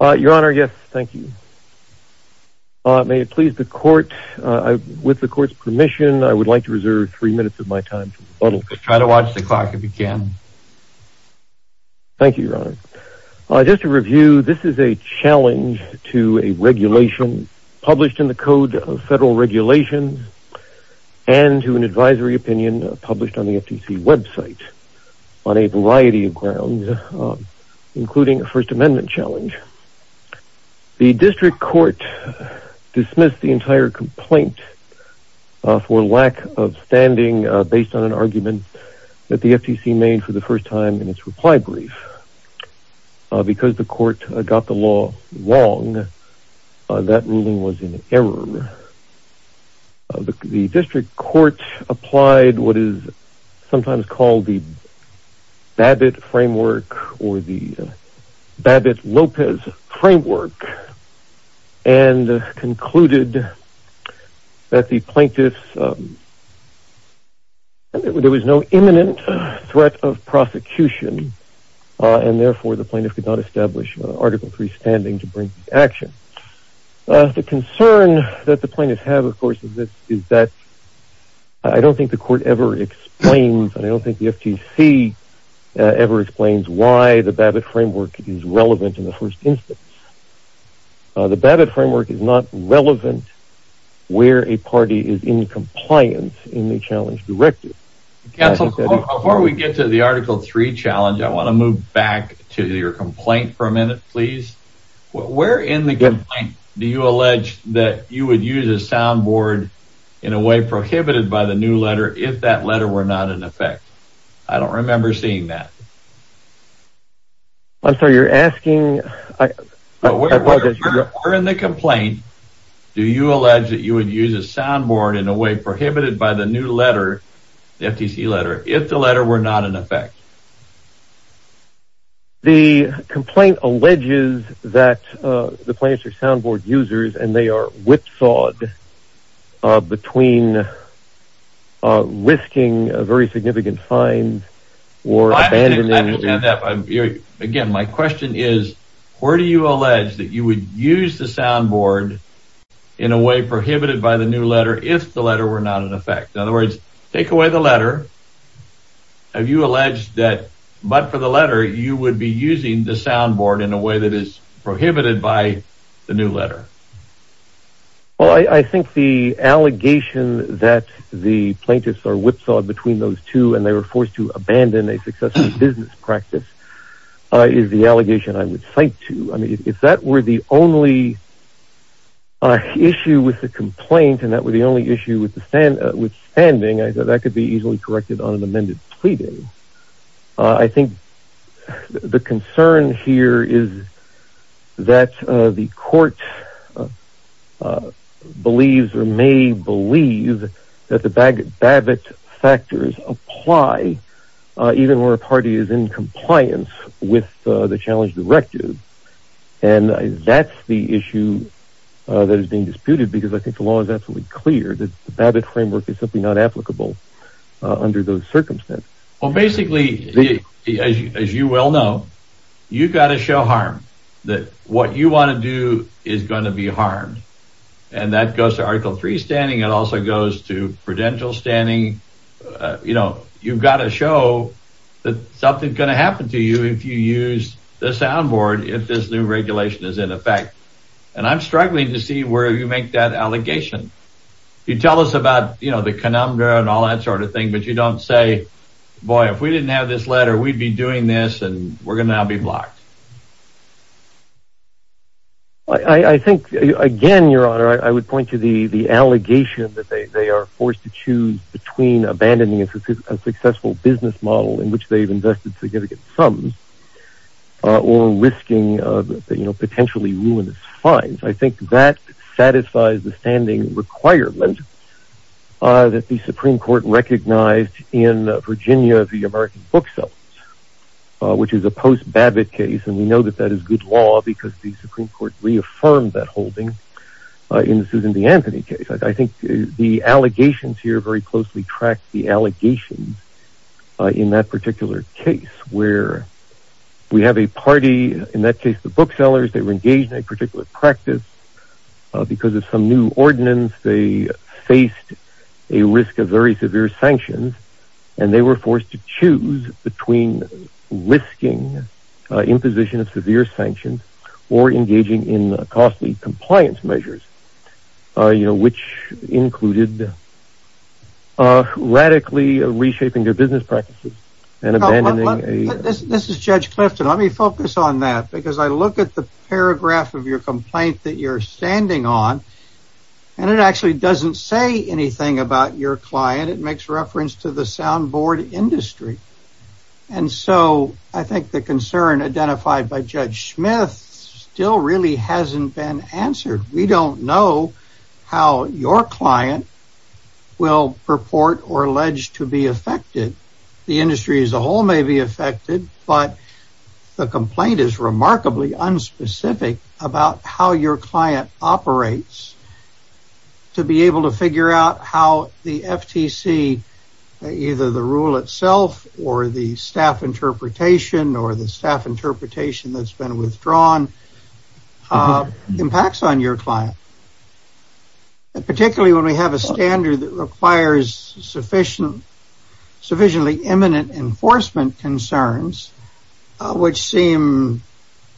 Your Honor, yes, thank you. May it please the court, with the court's permission, I would like to reserve three minutes of my time to rebuttal. Try to watch the clock if you can. Thank you, Your Honor. Just to review, this is a challenge to a regulation published in the Code of Federal Regulations and to an advisory opinion published on the FTC website on a variety of grounds including a First Amendment challenge. The district court dismissed the entire complaint for lack of standing based on an argument that the FTC made for the first time in its reply brief. Because the court got the law wrong, that ruling was in error. The district court applied what is sometimes called the BABBITT framework or the BABBITT-Lopez framework and concluded that the plaintiffs, there was no imminent threat of prosecution and therefore the plaintiff could not establish Article 3 standing to bring action. The concern that the plaintiffs have, of course, is that I don't think the court ever explains and I don't think the court ever explains why the BABBITT framework is relevant in the first instance. The BABBITT framework is not relevant where a party is in compliance in the challenge directive. Before we get to the Article 3 challenge, I want to move back to your complaint for a minute, please. Where in the complaint do you allege that you would use a soundboard in a way prohibited by the new letter if that letter were not in effect? I don't remember seeing that. I'm sorry, you're asking... Where in the complaint do you allege that you would use a soundboard in a way prohibited by the new letter, the FTC letter, if the letter were not in effect? The complaint alleges that the plaintiffs are soundboard users and they are not thought between risking a very significant fine or abandoning... Again, my question is, where do you allege that you would use the soundboard in a way prohibited by the new letter if the letter were not in effect? In other words, take away the letter. Have you alleged that, but for the letter, you would be Well, I think the allegation that the plaintiffs are whipsawed between those two and they were forced to abandon a successful business practice is the allegation I would cite to. I mean, if that were the only issue with the complaint and that were the only issue with standing, I thought that could be easily corrected on an amended pleading. I think the concern here is that the court believes or may believe that the Babbitt factors apply even where a party is in compliance with the challenge directive and that's the issue that is being disputed because I think the law is absolutely clear that the Babbitt framework is simply not applicable under those circumstances. Well, basically, as you well know, you've got to show harm that what you want to do is going to be harmed. And that goes to Article 3 standing. It also goes to prudential standing. You know, you've got to show that something's going to happen to you if you use the soundboard if this new regulation is in effect. And I'm struggling to see where you make that allegation. You tell us about, you know, the conundrum and all that sort of thing, but you don't say, boy, if we didn't have this letter, we'd be doing this and we're going to be blocked. I think, again, Your Honor, I would point to the the allegation that they are forced to choose between abandoning a successful business model in which they've invested significant sums or risking, you know, potentially ruinous I think that satisfies the standing requirement that the Supreme Court recognized in Virginia, the American booksellers, which is a post Babbitt case. And we know that that is good law because the Supreme Court reaffirmed that holding in the Anthony case. I think the allegations here very closely track the allegations in that particular case where we have a party, in that case, the practice, because of some new ordinance, they faced a risk of very severe sanctions and they were forced to choose between risking imposition of severe sanctions or engaging in costly compliance measures, you know, which included radically reshaping their business practices and abandoning. This is Judge Clifton. Let me focus on that because I look at the paragraph of your complaint that you're standing on and it actually doesn't say anything about your client. It makes reference to the soundboard industry. And so I think the concern identified by Judge Smith still really hasn't been answered. We don't know how your client will purport or allege to be affected. The industry as remarkably unspecific about how your client operates to be able to figure out how the FTC, either the rule itself or the staff interpretation or the staff interpretation that's been withdrawn impacts on your client. Particularly when we have a standard that requires sufficiently imminent enforcement concerns, which seem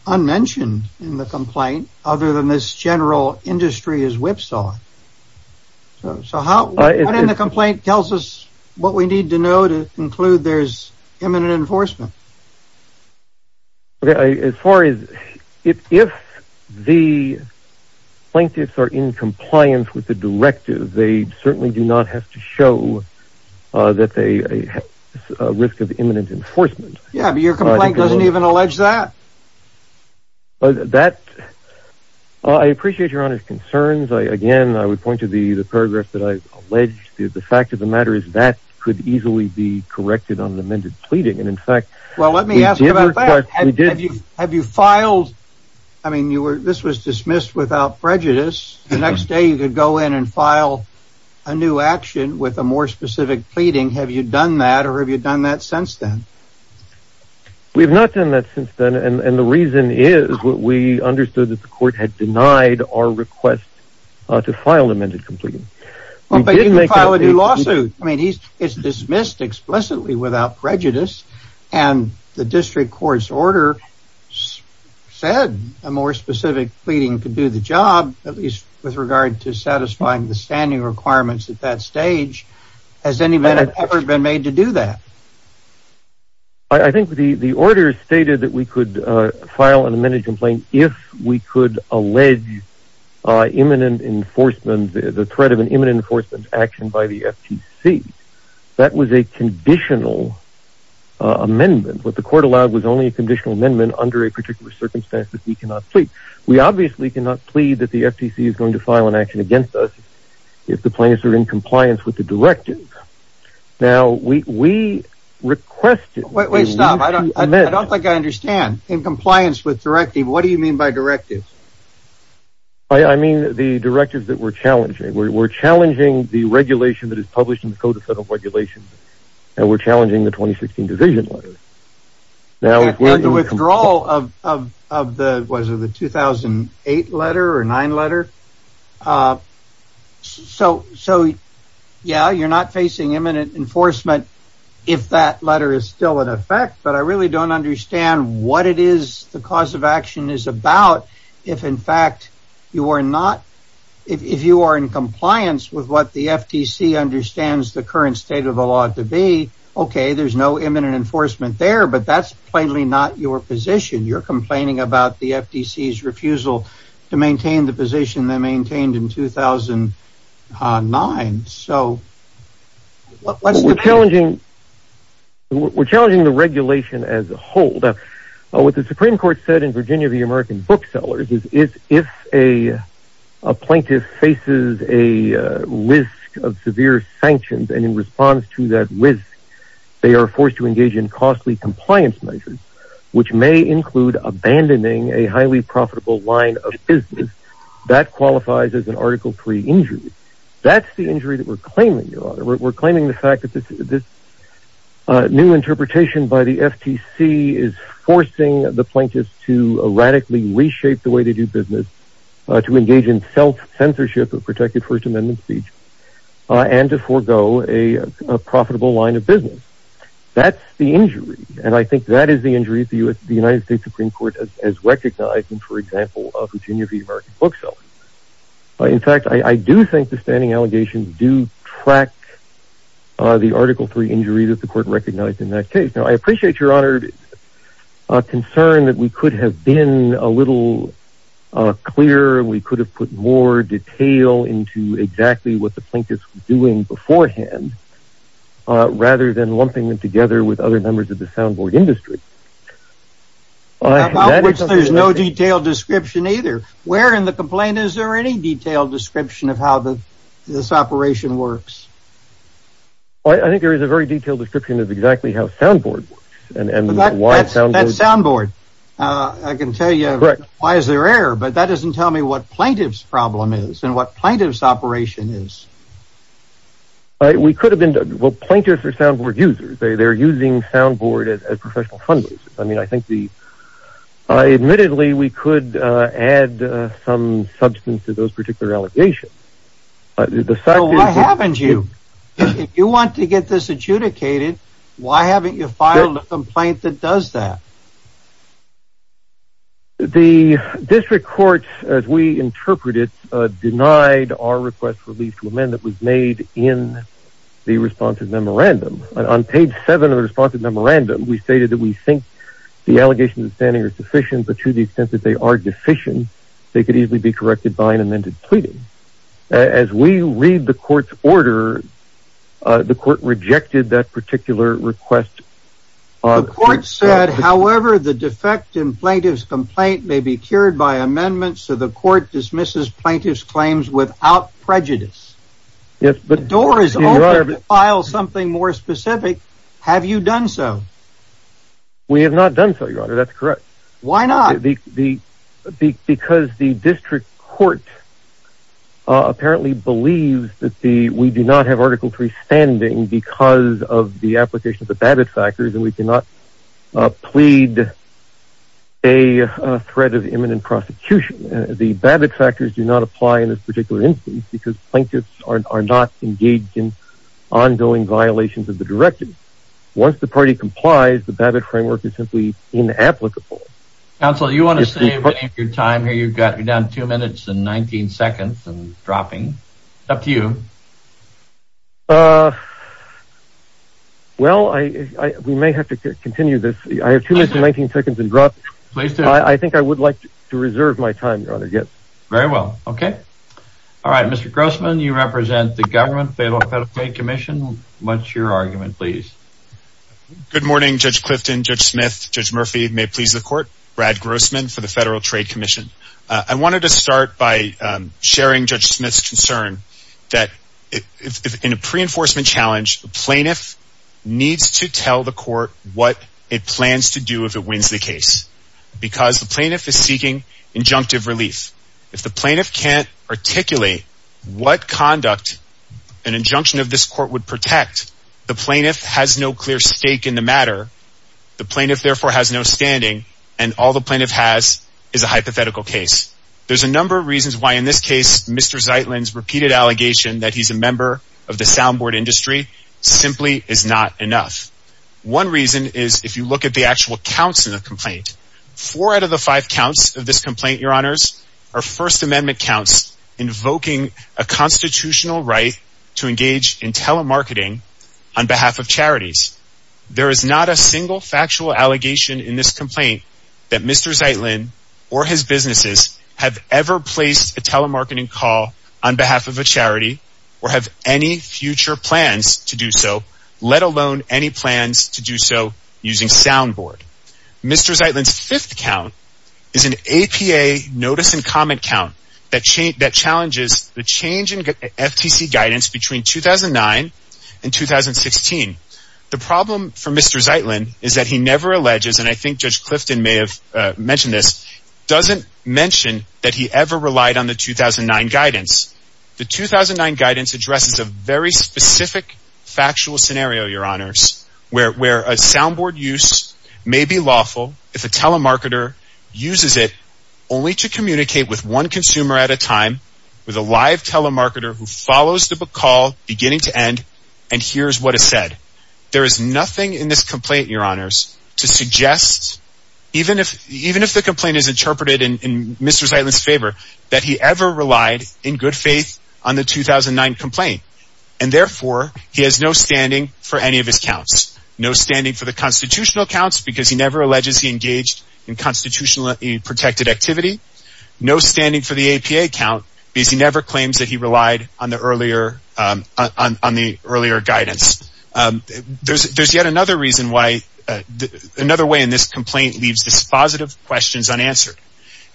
unmentioned in the complaint, other than this general industry is whipsaw. So how in the complaint tells us what we need to know to conclude there's imminent enforcement. Okay, as far as if the plaintiffs are in compliance with the directive, they Yeah, but your complaint doesn't even allege that. But that I appreciate your honor's concerns. I again, I would point to the paragraph that I allege the fact of the matter is that could easily be corrected on the amended pleading. And in fact, well, let me ask you about that. Have you have you filed? I mean, you were this was dismissed without prejudice. The next day, you could go in and file a new action with a more specific pleading. Have you done that? Or have you done that since then? We've not done that since then. And the reason is what we understood that the court had denied our request to file amended completely. Well, they didn't make a lawsuit. I mean, he's dismissed explicitly without prejudice. And the district court's order said a more specific pleading could do the job at least with regard to satisfying the standing requirements at that stage. Has anybody ever been made to do that? I think the the order stated that we could file an amended complaint if we could allege imminent enforcement, the threat of an imminent enforcement action by the FTC. That was a conditional amendment. What the court allowed was only a conditional amendment under a particular circumstance that we cannot plead. We obviously cannot plead that the FTC is going to file an action against if the plaintiffs are in compliance with the directive. Now, we requested Wait, stop. I don't think I understand. In compliance with directive, what do you mean by directive? I mean, the directive that we're challenging, we're challenging the regulation that is published in the Code of Federal Regulations. And we're challenging the 2016 division. Withdrawal of the 2008 letter or nine letter. So, yeah, you're not facing imminent enforcement, if that letter is still in effect. But I really don't understand what it is the cause of action is about. If in fact, you are not, if you are in compliance with what the FTC understands the current state of the law to be, okay, there's no imminent enforcement there. But that's plainly not your position. You're complaining about the FTC's refusal to maintain the position they maintained in 2009. So what's the challenging? We're challenging the regulation as a whole. What the Supreme Court said in Virginia, the American booksellers is if a plaintiff faces a risk of severe sanctions, and in response to that risk, they are forced to engage in costly compliance measures, which may include abandoning a highly profitable line of business that qualifies as an article three injury. That's the injury that we're claiming, Your Honor. We're claiming the fact that this new interpretation by the FTC is forcing the plaintiffs to radically reshape the way they do business, to engage in self-censorship of protected First Amendment speech, and to forego a profitable line of business. That's the injury. And I think that is the injury the United States Supreme Court has recognized in, for example, Virginia for the American bookseller. In fact, I do think the standing allegations do track the article three injury that the court recognized in that case. Now, I appreciate, Your Honor, a concern that we exactly what the plaintiffs were doing beforehand, rather than lumping them together with other members of the soundboard industry. About which there's no detailed description either. Where in the complaint is there any detailed description of how the this operation works? I think there is a very detailed description of exactly how soundboard works, and why soundboard. I can tell you why is there error, but that doesn't tell me what plaintiff's problem is, and what plaintiff's operation is. We could have been, well, plaintiffs are soundboard users. They're using soundboard as professional fundraisers. I mean, I think the, admittedly, we could add some substance to those particular allegations. The fact is... Well, why haven't you? If you want to get this adjudicated, why haven't you filed a complaint that does that? The district court, as we interpret it, denied our request for leave to amend that was made in the responsive memorandum. On page seven of the responsive memorandum, we stated that we think the allegations of standing are sufficient, but to the extent that they are deficient, they could easily be corrected by an amended pleading. As we read the court's order, the court rejected that particular request. The court said, however, the defect in plaintiff's complaint may be cured by amendments, so the court dismisses plaintiff's claims without prejudice. Yes, but... The door is open to file something more specific. Have you done so? We have not done so, Your Honor. That's correct. Why not? Because the district court apparently believes that we do not have Article 3 standing because of the application of the Babbitt factors, and we cannot plead a threat of imminent prosecution. The Babbitt factors do not apply in this particular instance because plaintiffs are not engaged in ongoing violations of the directive. Once the party complies, the Babbitt framework is simply inapplicable. Counsel, you want to save your time here? You've got down two minutes and 19 seconds and dropping. Up to you. Uh, well, we may have to continue this. I have two minutes and 19 seconds and drop. I think I would like to reserve my time, Your Honor, yes. Very well. Okay. All right, Mr. Grossman, you represent the government Federal Trade Commission. What's your argument, please? Good morning, Judge Clifton, Judge Smith, Judge Murphy. May it please the court? Brad Grossman for the Federal Trade Commission. I wanted to start by sharing Judge Smith's concern that in a pre enforcement challenge, plaintiff needs to tell the court what it plans to do if it wins the case because the plaintiff is seeking injunctive relief. If the plaintiff can't articulate what conduct an injunction of this court would protect, the plaintiff has no clear stake in the matter. The plaintiff, therefore, has no standing, and all the plaintiff has is a hypothetical case. There's a number of reasons why, in this case, Mr Zeitlin's repeated allegation that he's a member of the soundboard industry simply is not enough. One reason is if you look at the actual counts in the complaint, four out of the five counts of this complaint, Your Honors, are First Amendment counts invoking a constitutional right to engage in telemarketing on behalf of charities. There is not a single factual allegation in this complaint that Mr Zeitlin or his businesses have ever placed a telemarketing call on behalf of a charity or have any future plans to do so, let alone any plans to do so using soundboard. Mr. Zeitlin's fifth count is an APA notice and comment count that change that challenges the change in FTC guidance between 2009 and 2016. The problem for Mr. Zeitlin is that he never alleges, and I think Judge Clifton may have mentioned this, doesn't mention that he ever relied on the 2009 guidance. The 2009 guidance addresses a very specific factual scenario, Your Honors, where a soundboard use may be lawful if a telemarketer uses it only to communicate with one consumer at a time with a live telemarketer who follows the call beginning to end and hears what is said. There is nothing in this complaint, Your Honors, to suggest, even if the complaint is interpreted in Mr. Zeitlin's favor, that he ever relied in good faith on the 2009 complaint. And therefore, he has no standing for any of his counts. No standing for the constitutional counts because he never alleges he engaged in constitutionally protected activity. No standing for the APA count because he never claims that he relied on the earlier guidance. There's yet another reason why, another way in this complaint leaves this positive questions unanswered.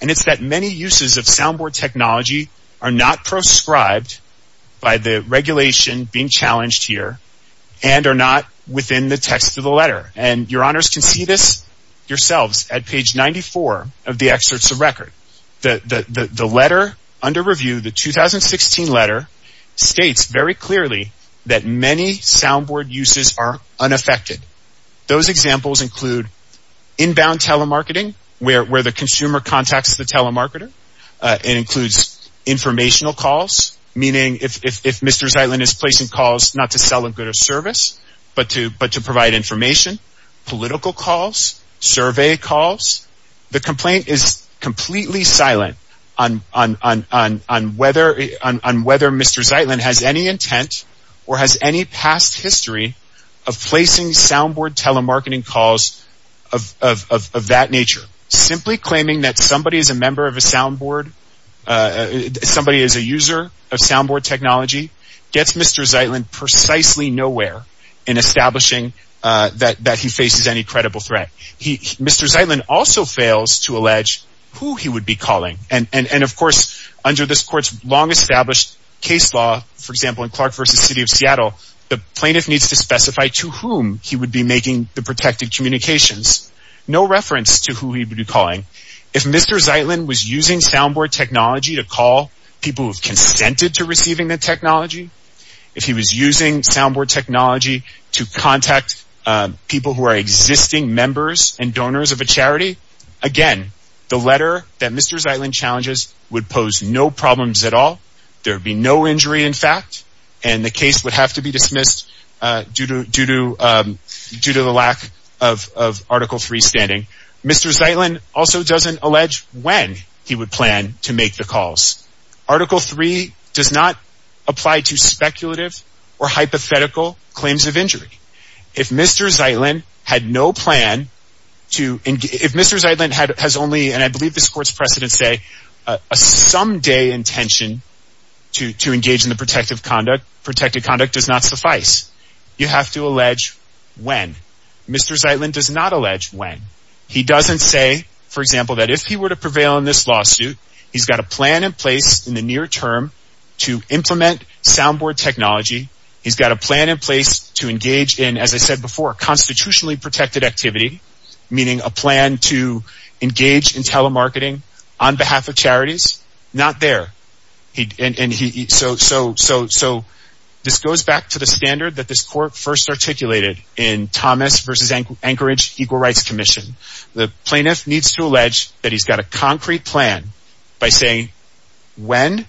And it's that many uses of soundboard technology are not proscribed by the regulation being challenged here and are not within the text of the letter. And Your Honors can see this yourselves at page 94 of the excerpts of record. The letter under review, the many soundboard uses are unaffected. Those examples include inbound telemarketing, where the consumer contacts the telemarketer. It includes informational calls, meaning if Mr. Zeitlin is placing calls not to sell a good or service, but to provide information, political calls, survey calls. The complaint is completely silent on whether Mr. Zeitlin has any intent or has any past history of placing soundboard telemarketing calls of that nature. Simply claiming that somebody is a member of a soundboard, somebody is a user of soundboard technology gets Mr. Zeitlin precisely nowhere in establishing that he faces any credible threat. Mr. Zeitlin also fails to allege who he would be calling. And of course, under this court's long Clark versus City of Seattle, the plaintiff needs to specify to whom he would be making the protected communications. No reference to who he would be calling. If Mr. Zeitlin was using soundboard technology to call people who have consented to receiving the technology, if he was using soundboard technology to contact people who are existing members and donors of a charity, again, the letter that Mr. Zeitlin challenges would pose no injury in fact, and the case would have to be dismissed due to the lack of Article 3 standing. Mr. Zeitlin also doesn't allege when he would plan to make the calls. Article 3 does not apply to speculative or hypothetical claims of injury. If Mr. Zeitlin had no plan to, if Mr. Zeitlin has only, and I engage in the protective conduct, protected conduct does not suffice. You have to allege when. Mr. Zeitlin does not allege when. He doesn't say, for example, that if he were to prevail in this lawsuit, he's got a plan in place in the near term to implement soundboard technology. He's got a plan in place to engage in, as I said before, constitutionally protected activity, meaning a plan to engage in telemarketing on behalf of charities. Not there. So this goes back to the standard that this court first articulated in Thomas v. Anchorage Equal Rights Commission. The plaintiff needs to allege that he's got a concrete plan by saying when,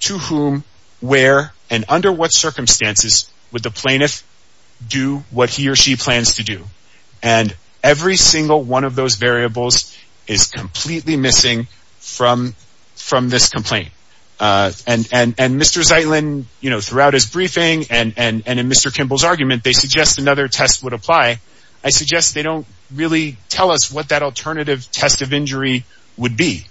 to whom, where, and under what circumstances would the plaintiff do what he or she plans to do. And every single one of those variables is completely missing from this complaint. And Mr. Zeitlin, you know, throughout his briefing and in Mr. Kimball's argument, they suggest another test would apply. I suggest they don't really tell us what that alternative test of injury would be.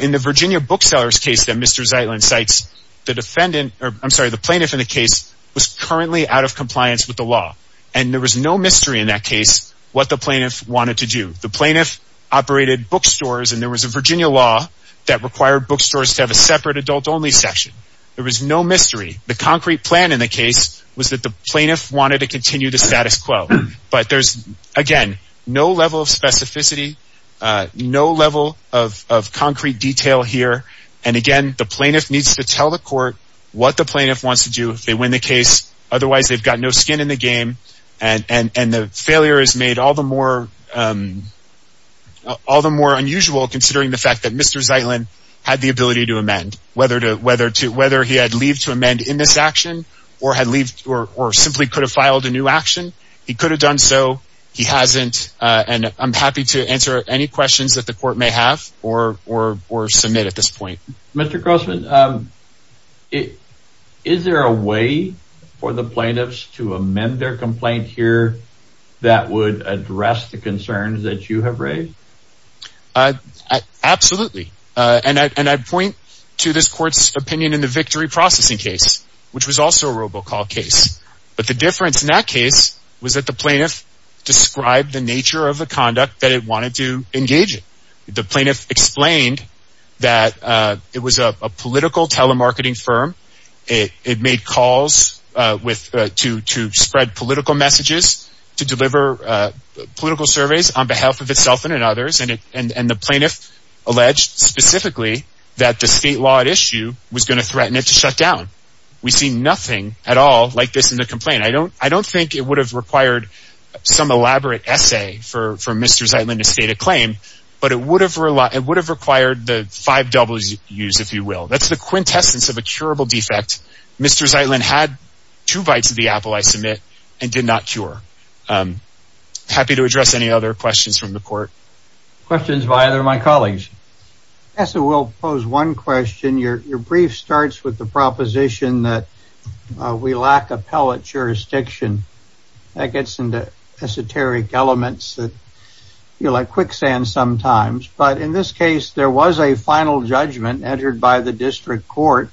In the Virginia bookseller's case that Mr. Zeitlin cites, the defendant, or I'm sorry, the plaintiff in the case was currently out of compliance with the law. And there was no mystery in that case what the plaintiff wanted to do. The plaintiff operated bookstores and there was a Virginia law that required bookstores to have a separate adult only section. There was no mystery. The concrete plan in the case was that the plaintiff wanted to continue the status quo. But there's, again, no level of specificity, no level of concrete detail here. And again, the plaintiff needs to tell the court what the plaintiff wants to do if they win the case. Otherwise, they've got no skin in the game. And the failure is made all the more unusual considering the fact that Mr. Zeitlin had the ability to amend, whether he had leave to amend in this action or had leave or simply could have filed a new action. He could have done so. He hasn't. And I'm happy to answer any questions that the court may have or submit at this point. Mr. Grossman, is there a way for the plaintiffs to amend their complaint here that would address the concerns that you have raised? Absolutely. And I point to this court's opinion in the victory processing case, which was also a robocall case. But the difference in that case was that the plaintiff described the nature of the conduct that it wanted to engage in. The that it was a political telemarketing firm. It made calls with to to spread political messages to deliver political surveys on behalf of itself and others. And it and the plaintiff alleged specifically that the state law at issue was going to threaten it to shut down. We see nothing at all like this in the complaint. I don't I don't think it would have required some elaborate essay for for Mr. Zeitlin to state a claim. But it would have relied it would have required the five doubles use, if you will. That's the quintessence of a curable defect. Mr. Zeitlin had two bites of the apple, I submit, and did not cure. I'm happy to address any other questions from the court. Questions by either of my colleagues. So we'll pose one question. Your brief starts with the proposition that we lack appellate jurisdiction. That gets into esoteric elements that feel like quicksand sometimes. But in this case, there was a final judgment entered by the district court.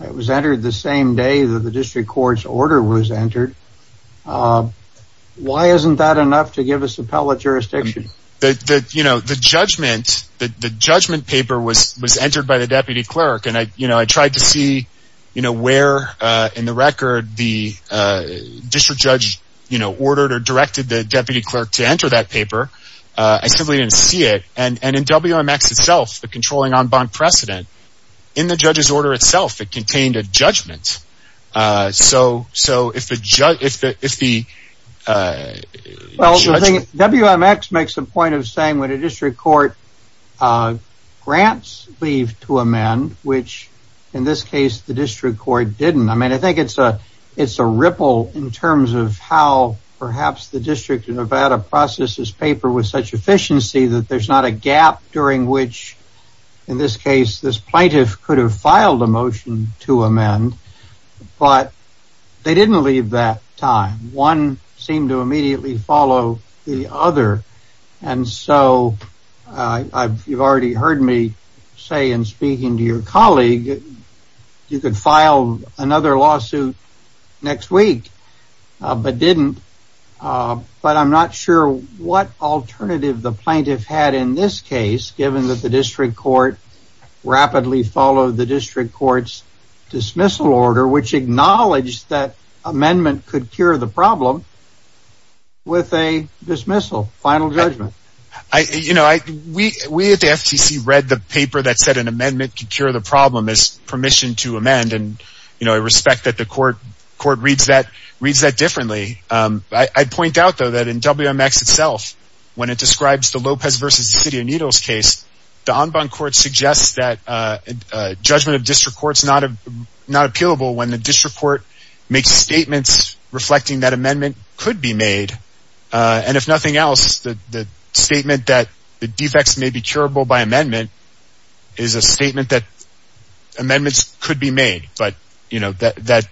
It was entered the same day that the district court's order was entered. Why isn't that enough to give us appellate jurisdiction? That, you know, the judgment, the judgment paper was was entered by the deputy clerk. And I, you know, I tried to see, you know, where in the record, the district judge, you know, ordered or directed the deputy clerk to enter that and in W.M.X. itself, the controlling on bond precedent in the judge's order itself, it contained a judgment. So so if the if the if the W.M.X. makes a point of saying when a district court grants leave to amend, which in this case, the district court didn't. I mean, I think it's a it's a ripple in terms of how perhaps the district in Nevada processes paper with such efficiency that there's not a gap during which, in this case, this plaintiff could have filed a motion to amend. But they didn't leave that time. One seemed to immediately follow the other. And so you've already heard me say in speaking to your colleague, you could file another lawsuit next week, but didn't. But I'm not sure what alternative the plaintiff had in this case, given that the district court rapidly followed the district court's dismissal order, which acknowledged that amendment could cure the problem. With a dismissal, final judgment, I, you know, we we at the FCC read the paper that said an amendment could cure the problem is permission to amend and, you know, I respect that the court court reads that reads that differently. I point out, though, that in WMX itself, when it describes the Lopez versus City of Needles case, the en banc court suggests that judgment of district courts not not appealable when the district court makes statements reflecting that amendment could be made. And if nothing else, the statement that the defects may be curable by amendment is a statement that amendments could be made. But, you know, that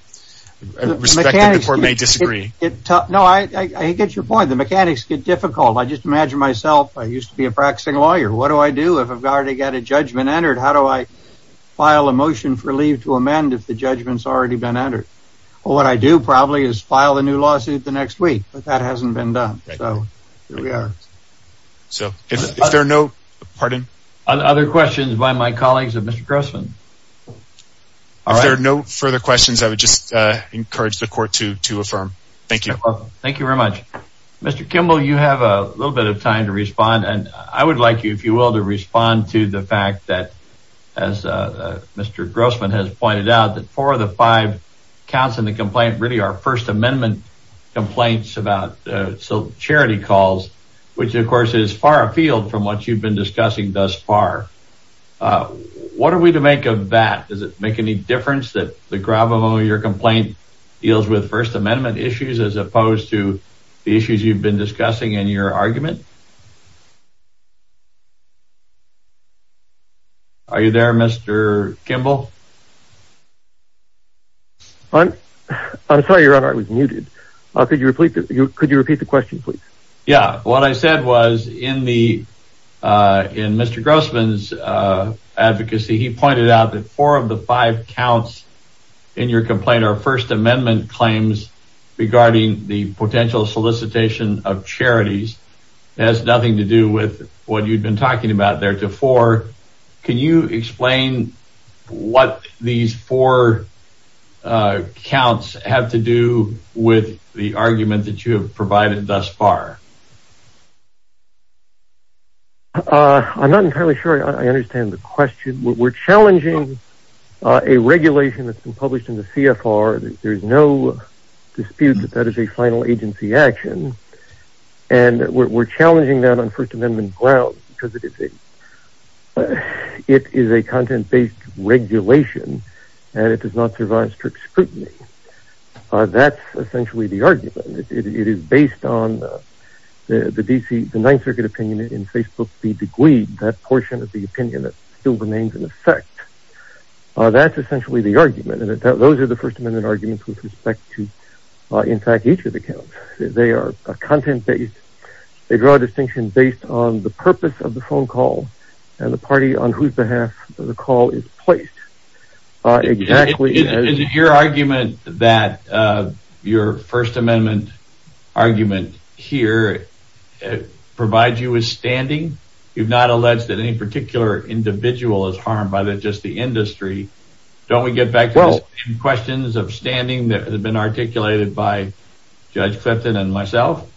respect the court may disagree. No, I get your point. The mechanics get difficult. I just imagine myself. I used to be a practicing lawyer. What do I do if I've already got a judgment entered? How do I file a motion for leave to amend if the judgment's already been entered? What I do probably is file a new lawsuit the next week. But that hasn't been done. So here we are. So if there are no other questions by my colleagues and Mr. Grossman, if there are no further questions, I would just encourage the court to to affirm. Thank you. Thank you very much. Mr. Kimball, you have a little bit of time to respond. And I would like you, if you will, to respond to the fact that as Mr. Grossman has pointed out that four of the five counts in the complaint really are First Amendment complaints about charity calls, which, of course, is far afield from what you've been discussing thus far. What are we to make of that? Does it make any difference that the gravamole of your complaint deals with First Amendment issues as opposed to the issues you've been discussing in your argument? Are you there, Mr. Kimball? I'm sorry, your honor, I was muted. Yeah, what I said was in the in Mr. Grossman's advocacy, he pointed out that four of the five counts in your complaint are First Amendment claims regarding the potential solicitation of charities. That has nothing to do with what you've been talking about there to four. Can you explain what these four counts have to do with the argument that you have thus far? I'm not entirely sure I understand the question. We're challenging a regulation that's been published in the CFR. There's no dispute that that is a final agency action, and we're challenging that on First Amendment grounds because it is a it is a content based regulation and it does not provide strict scrutiny. That's essentially the argument. It is based on the D.C. the Ninth Circuit opinion in Facebook. The degree that portion of the opinion that still remains in effect. That's essentially the argument. And those are the First Amendment arguments with respect to, in fact, each of the counts. They are content based. They draw a distinction based on the purpose of the phone call and the party on whose behalf the call is placed. Exactly. Is it your argument that your First Amendment argument here provides you with standing? You've not alleged that any particular individual is harmed by just the industry. Don't we get back to the same questions of standing that have been articulated by Judge Clifton and myself?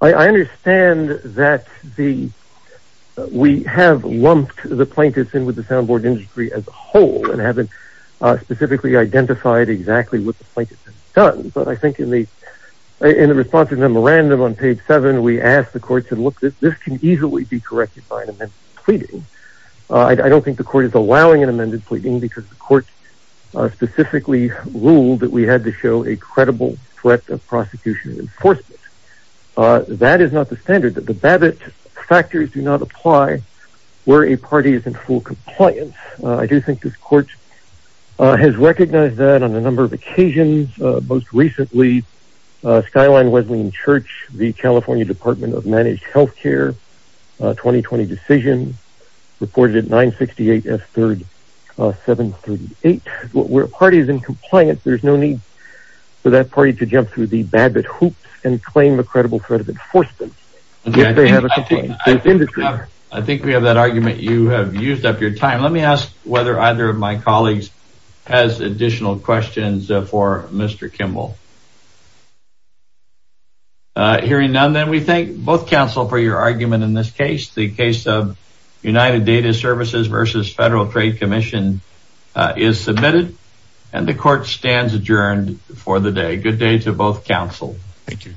I understand that the we have lumped the plaintiffs in with the soundboard industry as a whole and haven't specifically identified exactly what the plaintiff has done. But I think in the in the response to the memorandum on page seven, we asked the court to look that this can easily be corrected by an amended pleading. I don't think the court is allowing an amended pleading because the court specifically ruled that we had to show a credible threat of prosecution and enforcement. That is not the standard that the Babbitt factors do not apply where a compliance. I do think this court has recognized that on a number of occasions. Most recently, Skyline Wesleyan Church, the California Department of Managed Health Care, 2020 decision reported at 968 S. Third, 738, where a party is in compliance. There's no need for that party to jump through the Babbitt hoops and claim a credible threat of enforcement. If they have a complaint, I think we have that argument you have used up your time. Let me ask whether either of my colleagues has additional questions for Mr. Kimball. Hearing none, then we thank both counsel for your argument in this case. The case of United Data Services versus Federal Trade Commission is submitted and the court stands adjourned for the day. Good day to both counsel. Thank you.